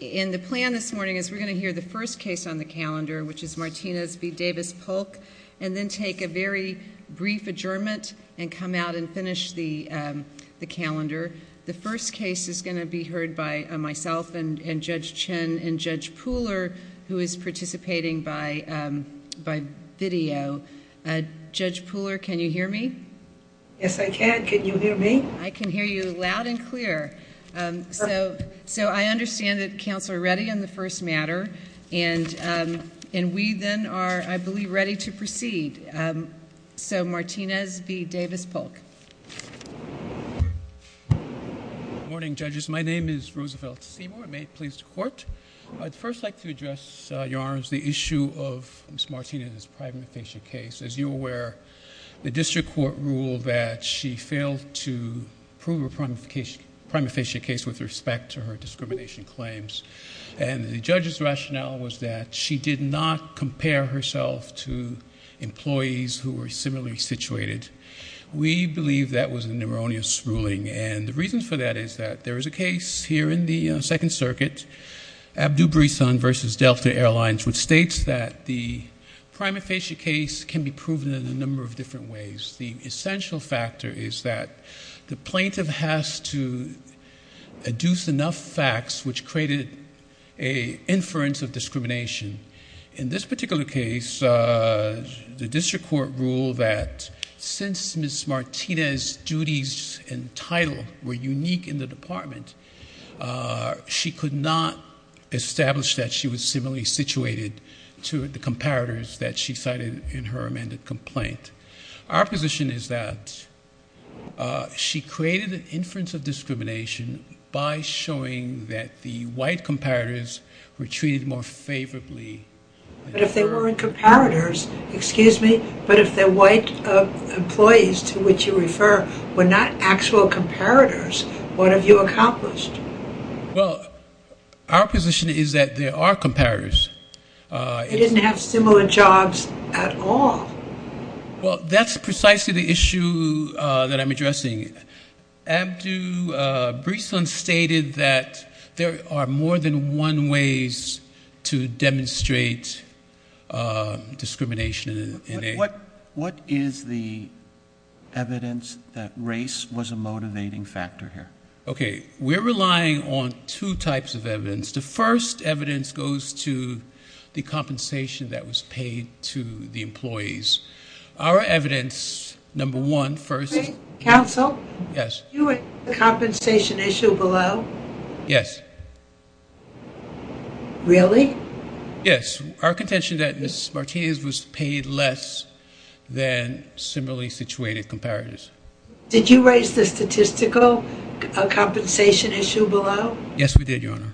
In the plan this morning is we're going to hear the first case on the calendar, which is Martinez v. Davis Polk, and then take a very brief adjournment and come out and finish the calendar. The first case is going to be heard by myself and Judge Chin and Judge Pooler, who is participating by video. Judge Pooler, can you hear me? Yes, I can. Can you hear me? I can hear you loud and clear. So I understand that counsel are ready on the first matter, and we then are, I believe, ready to proceed. So, Martinez v. Davis Polk. Good morning, judges. My name is Roosevelt Seymour. I'm made pleased to court. I'd first like to address, Your Honors, the issue of Ms. Martinez's prima facie case. As you're aware, the district court ruled that she failed to prove her prima facie case with respect to her discrimination claims, and the judge's rationale was that she did not compare herself to employees who were similarly situated. We believe that was an erroneous ruling, and the reason for that is that there is a case here in the Second Circuit, Abdu Brisan v. Delta Airlines, which states that the prima facie case can be proven in a number of different ways. The essential factor is that the plaintiff has to adduce enough facts which created an inference of discrimination. In this particular case, the district court ruled that since Ms. Martinez's duties and title were unique in the department, she could not establish that she was similarly situated to the comparators that she cited in her amended complaint. Our position is that she created an inference of discrimination by showing that the white comparators were treated more favorably. But if they weren't comparators, excuse me, but if the white employees to which you refer were not actual comparators, what have you accomplished? Well, our position is that there are comparators. They didn't have similar jobs at all. Well, that's precisely the issue that I'm addressing. Abdu Brisan stated that there are more than one ways to demonstrate discrimination. What is the evidence that race was a motivating factor here? Okay, we're relying on two types of evidence. The first evidence goes to the compensation that was paid to the employees. Our evidence, number one, first. Counsel? Yes. The compensation issue below? Yes. Really? Yes. Our contention is that Ms. Martinez was paid less than similarly situated comparators. Did you raise the statistical compensation issue below? Yes, we did, Your Honor.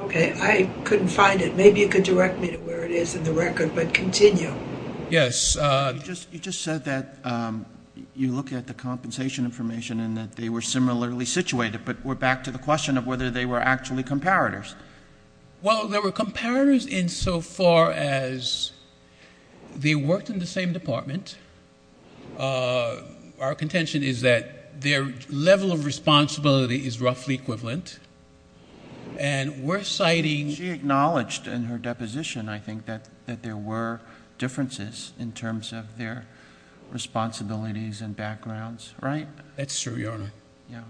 Okay. I couldn't find it. Maybe you could direct me to where it is in the record, but continue. Yes. You just said that you look at the compensation information and that they were similarly situated, but we're back to the question of whether they were actually comparators. Well, they were comparators insofar as they worked in the same department. Our contention is that their level of responsibility is roughly equivalent, and we're citing— She acknowledged in her deposition, I think, that there were differences in terms of their responsibilities and backgrounds, right? That's true, Your Honor. Yeah.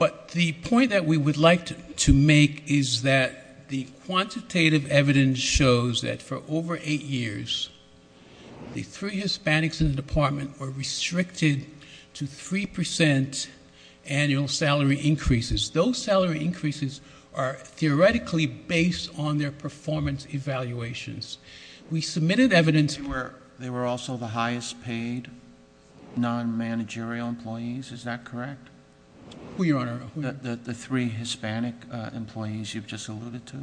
But the point that we would like to make is that the quantitative evidence shows that for over eight years, the three Hispanics in the department were restricted to 3% annual salary increases. Those salary increases are theoretically based on their performance evaluations. We submitted evidence— Non-managerial employees, is that correct? Who, Your Honor? The three Hispanic employees you've just alluded to.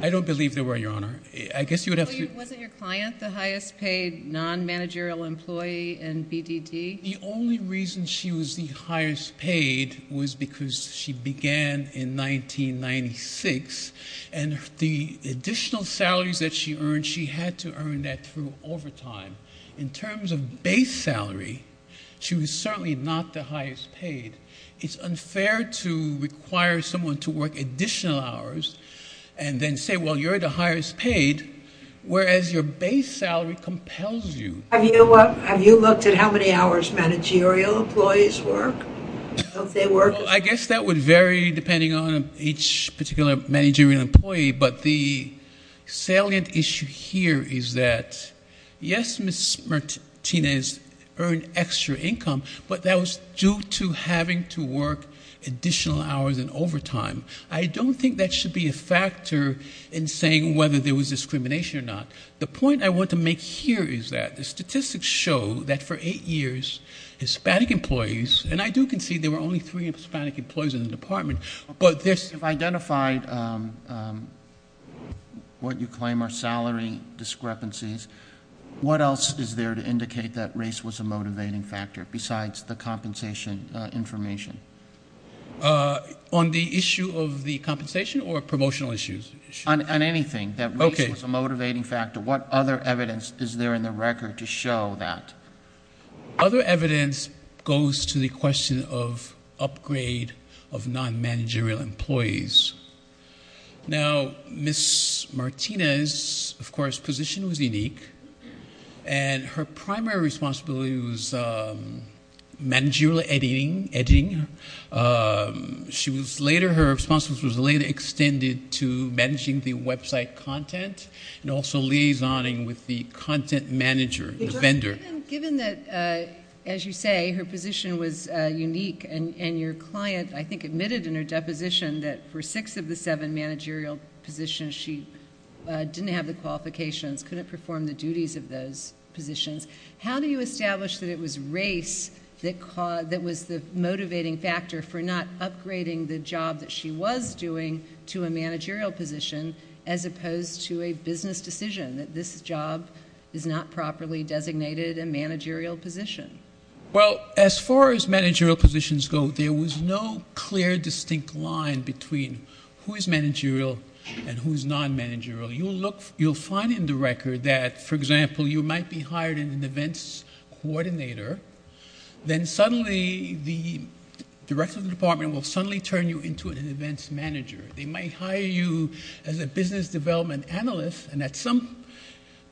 I don't believe they were, Your Honor. I guess you would have to— Wasn't your client the highest paid non-managerial employee in BDD? The only reason she was the highest paid was because she began in 1996, and the additional salaries that she earned, she had to earn that through overtime. In terms of base salary, she was certainly not the highest paid. It's unfair to require someone to work additional hours and then say, well, you're the highest paid, whereas your base salary compels you. Have you looked at how many hours managerial employees work? Don't they work— Ms. Martinez earned extra income, but that was due to having to work additional hours in overtime. I don't think that should be a factor in saying whether there was discrimination or not. The point I want to make here is that the statistics show that for eight years, Hispanic employees— and I do concede there were only three Hispanic employees in the department, but there's— What else is there to indicate that race was a motivating factor besides the compensation information? On the issue of the compensation or promotional issues? On anything, that race was a motivating factor. What other evidence is there in the record to show that? Other evidence goes to the question of upgrade of non-managerial employees. Now, Ms. Martinez's, of course, position was unique, and her primary responsibility was managerial editing. She was later—her responsibility was later extended to managing the website content and also liaisoning with the content manager, the vendor. Given that, as you say, her position was unique, and your client, I think, admitted in her deposition that for six of the seven managerial positions, she didn't have the qualifications, couldn't perform the duties of those positions, how do you establish that it was race that was the motivating factor for not upgrading the job that she was doing to a managerial position as opposed to a business decision, that this job is not properly designated a managerial position? Well, as far as managerial positions go, there was no clear, distinct line between who is managerial and who is non-managerial. You'll look—you'll find in the record that, for example, you might be hired in an events coordinator, then suddenly the director of the department will suddenly turn you into an events manager. They might hire you as a business development analyst, and at some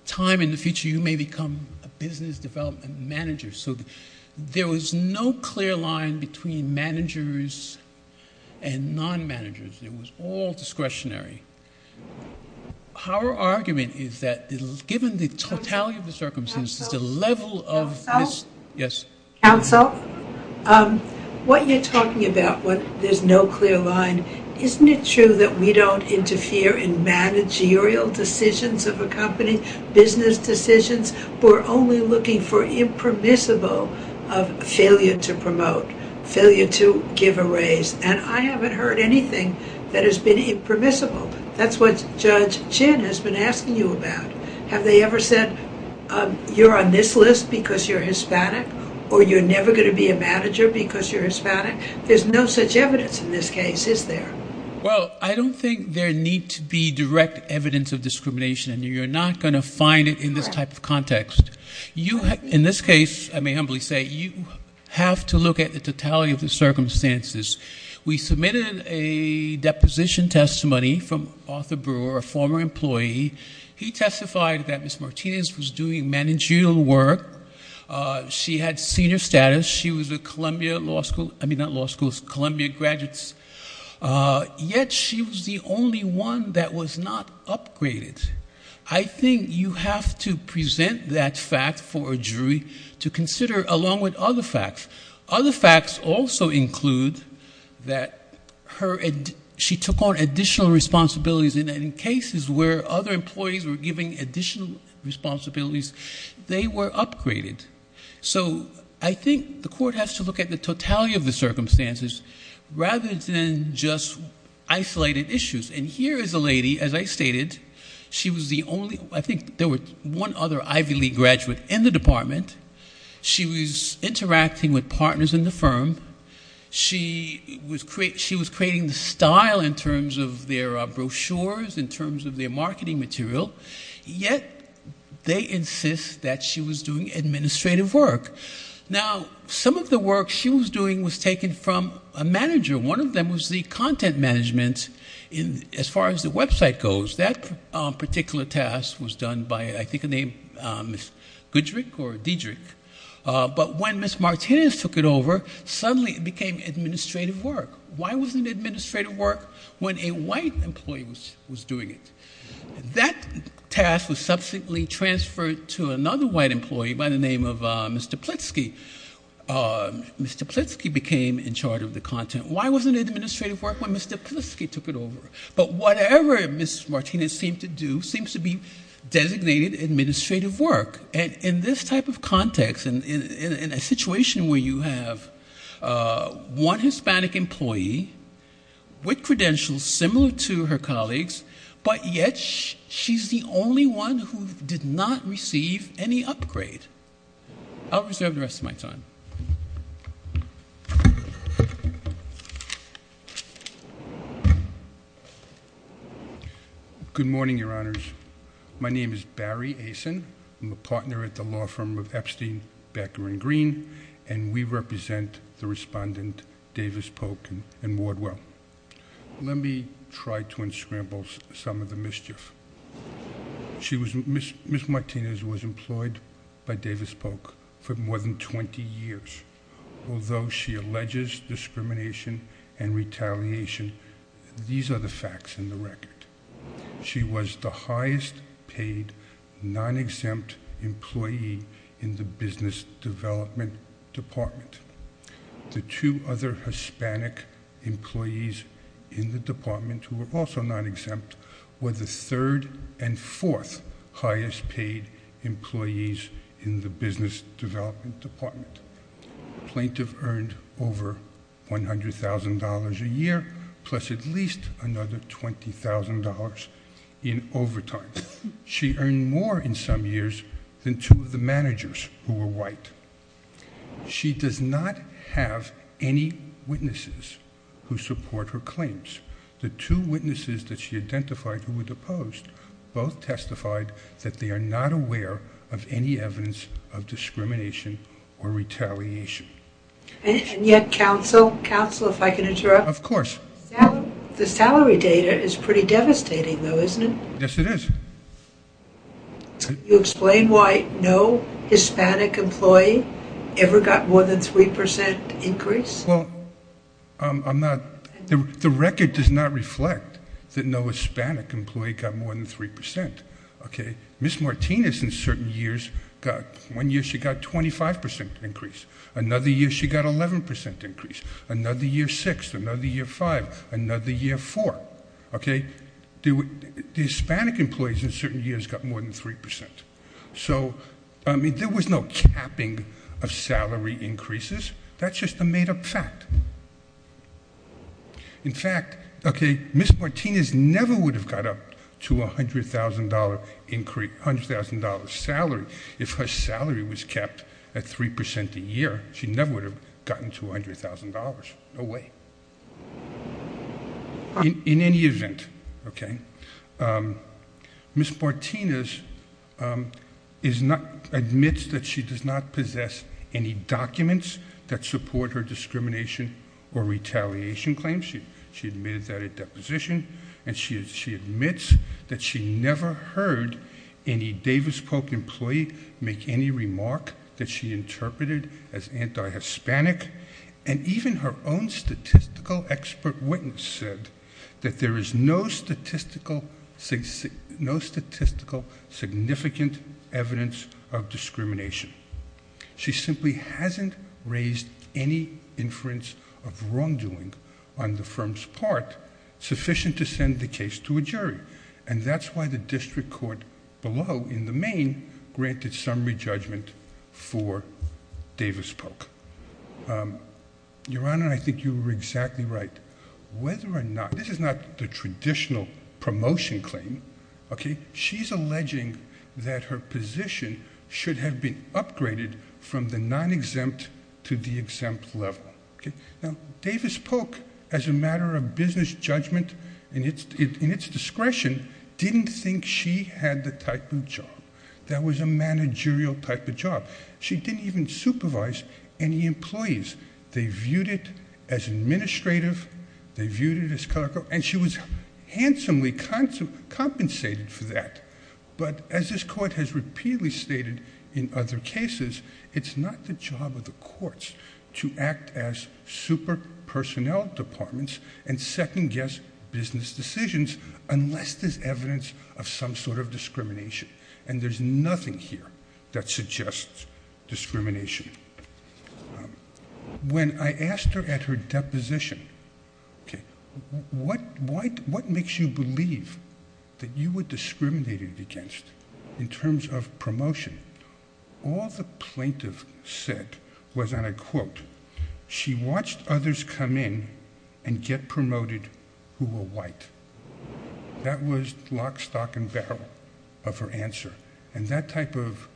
time in the future, you may become a business development manager. So there was no clear line between managers and non-managers. It was all discretionary. Our argument is that, given the totality of the circumstances, the level of— Counsel? What you're talking about, what there's no clear line, isn't it true that we don't interfere in managerial decisions of a company, business decisions? We're only looking for impermissible of failure to promote, failure to give a raise. And I haven't heard anything that has been impermissible. That's what Judge Chin has been asking you about. Have they ever said, you're on this list because you're Hispanic or you're never going to be a manager because you're Hispanic? There's no such evidence in this case, is there? Well, I don't think there needs to be direct evidence of discrimination, and you're not going to find it in this type of context. In this case, I may humbly say, you have to look at the totality of the circumstances. We submitted a deposition testimony from Arthur Brewer, a former employee. He testified that Ms. Martinez was doing managerial work. She had senior status. She was a Columbia law school—I mean, not law school, Columbia graduates. Yet she was the only one that was not upgraded. I think you have to present that fact for a jury to consider along with other facts. Other facts also include that she took on additional responsibilities in cases where other employees were giving additional responsibilities. They were upgraded. So I think the court has to look at the totality of the circumstances rather than just isolated issues. And here is a lady, as I stated, she was the only— I think there was one other Ivy League graduate in the department. She was interacting with partners in the firm. She was creating the style in terms of their brochures, in terms of their marketing material. Yet they insist that she was doing administrative work. Now, some of the work she was doing was taken from a manager. One of them was the content management as far as the website goes. That particular task was done by, I think, a name, Ms. Goodrick or Diedrich. But when Ms. Martinez took it over, suddenly it became administrative work. Why wasn't it administrative work? When a white employee was doing it. That task was subsequently transferred to another white employee by the name of Mr. Plitsky. Mr. Plitsky became in charge of the content. Why wasn't it administrative work when Mr. Plitsky took it over? But whatever Ms. Martinez seemed to do seems to be designated administrative work. And in this type of context, in a situation where you have one Hispanic employee with credentials similar to her colleagues, but yet she's the only one who did not receive any upgrade. I'll reserve the rest of my time. Good morning, Your Honors. My name is Barry Asin. I'm a partner at the law firm of Epstein, Becker & Green, and we represent the respondent Davis Polk and Wardwell. Let me try to unscramble some of the mischief. Ms. Martinez was employed by Davis Polk for more than 20 years. Although she alleges discrimination and retaliation, these are the facts in the record. She was the highest paid, non-exempt employee in the business development department. The two other Hispanic employees in the department who were also non-exempt were the third and fourth highest paid employees in the business development department. The plaintiff earned over $100,000 a year, plus at least another $20,000 in overtime. She earned more in some years than two of the managers who were white. She does not have any witnesses who support her claims. The two witnesses that she identified who were deposed both testified that they are not aware of any evidence of discrimination or retaliation. And yet, counsel, if I can interrupt. Of course. The salary data is pretty devastating, though, isn't it? Yes, it is. Can you explain why no Hispanic employee ever got more than 3% increase? Well, I'm not. The record does not reflect that no Hispanic employee got more than 3%. Ms. Martinez, in certain years, got 25% increase. Another year, she got 11% increase. Another year, 6%. Another year, 5%. Another year, 4%. The Hispanic employees in certain years got more than 3%. So there was no capping of salary increases. That's just a made-up fact. In fact, Ms. Martinez never would have got up to a $100,000 salary. If her salary was capped at 3% a year, she never would have gotten to $100,000. No way. In any event, Ms. Martinez admits that she does not possess any documents that support her discrimination or retaliation claims. She admitted that at deposition. And she admits that she never heard any Davis Polk employee make any remark that she interpreted as anti-Hispanic. And even her own statistical expert witness said that there is no statistical significant evidence of discrimination. She simply hasn't raised any inference of wrongdoing on the firm's part sufficient to send the case to a jury. And that's why the district court below, in the main, granted summary judgment for Davis Polk. Your Honor, I think you were exactly right. Whether or not... This is not the traditional promotion claim. She's alleging that her position should have been upgraded from the non-exempt to the exempt level. Now, Davis Polk, as a matter of business judgment in its discretion, didn't think she had the type of job. That was a managerial type of job. She didn't even supervise any employees. They viewed it as administrative. They viewed it as... And she was handsomely compensated for that. But, as this court has repeatedly stated in other cases, it's not the job of the courts to act as super personnel departments and second-guess business decisions unless there's evidence of some sort of discrimination. And there's nothing here that suggests discrimination. When I asked her at her deposition, what makes you believe that you were discriminated against in terms of promotion? All the plaintiff said was, and I quote, she watched others come in and get promoted who were white. That was lock, stock, and barrel of her answer. And that type of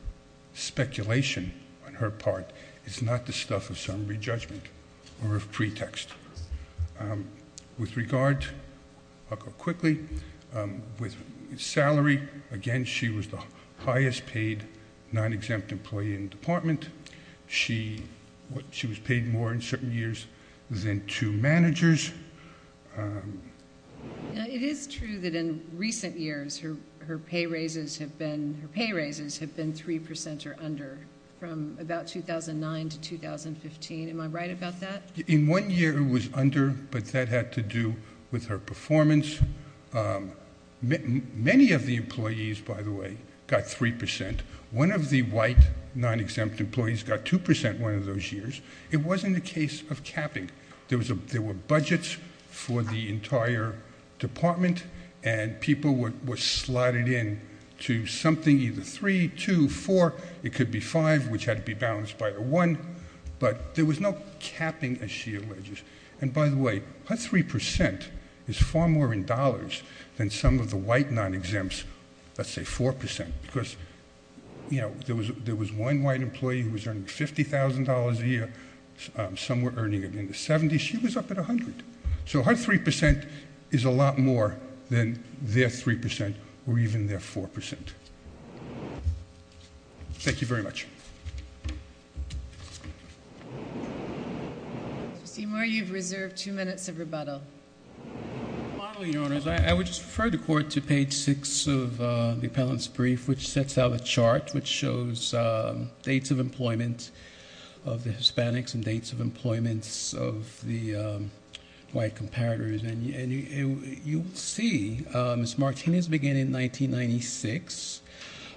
speculation on her part is not the stuff of some re-judgment or of pretext. With regard, I'll go quickly. With salary, again, she was the highest paid non-exempt employee in the department. She was paid more in certain years than two managers. It is true that in recent years, her pay raises have been 3% or under from about 2009 to 2015. Am I right about that? In one year, it was under, but that had to do with her performance. Many of the employees, by the way, got 3%. One of the white non-exempt employees got 2% one of those years. It wasn't a case of capping. There were budgets for the entire department, and people were slotted in to something, either 3, 2, 4. It could be 5, which had to be balanced by a 1. But there was no capping, as she alleges. And by the way, that 3% is far more in dollars than some of the white non-exempts, let's say 4%. Because there was one white employee who was earning $50,000 a year. Some were earning it in the 70s. She was up at 100. So her 3% is a lot more than their 3% or even their 4%. Thank you very much. Justine Moore, you have reserved two minutes of rebuttal. Finally, Your Honors, I would just refer the Court to page 6 of the appellant's brief, which sets out a chart which shows dates of employment of the Hispanics and dates of employment of the white comparators. And you'll see Ms. Martinez began in 1996.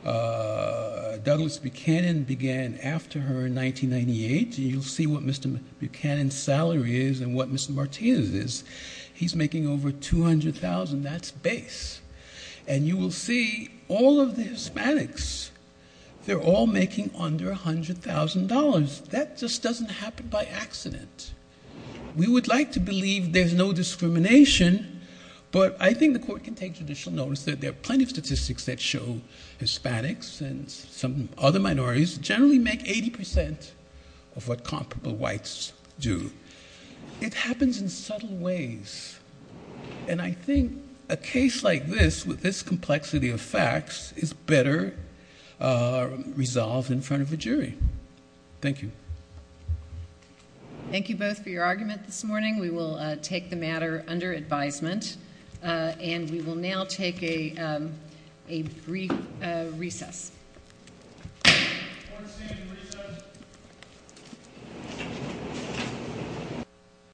Douglas Buchanan began after her in 1998. And you'll see what Mr. Buchanan's salary is and what Ms. Martinez's is. He's making over $200,000. That's base. And you will see all of the Hispanics, they're all making under $100,000. That just doesn't happen by accident. We would like to believe there's no discrimination, but I think the Court can take judicial notice that there are plenty of statistics that show Hispanics and some other minorities generally make 80% of what comparable whites do. It happens in subtle ways. And I think a case like this, with this complexity of facts, is better resolved in front of a jury. Thank you. Thank you both for your argument this morning. We will take the matter under advisement. And we will now take a brief recess.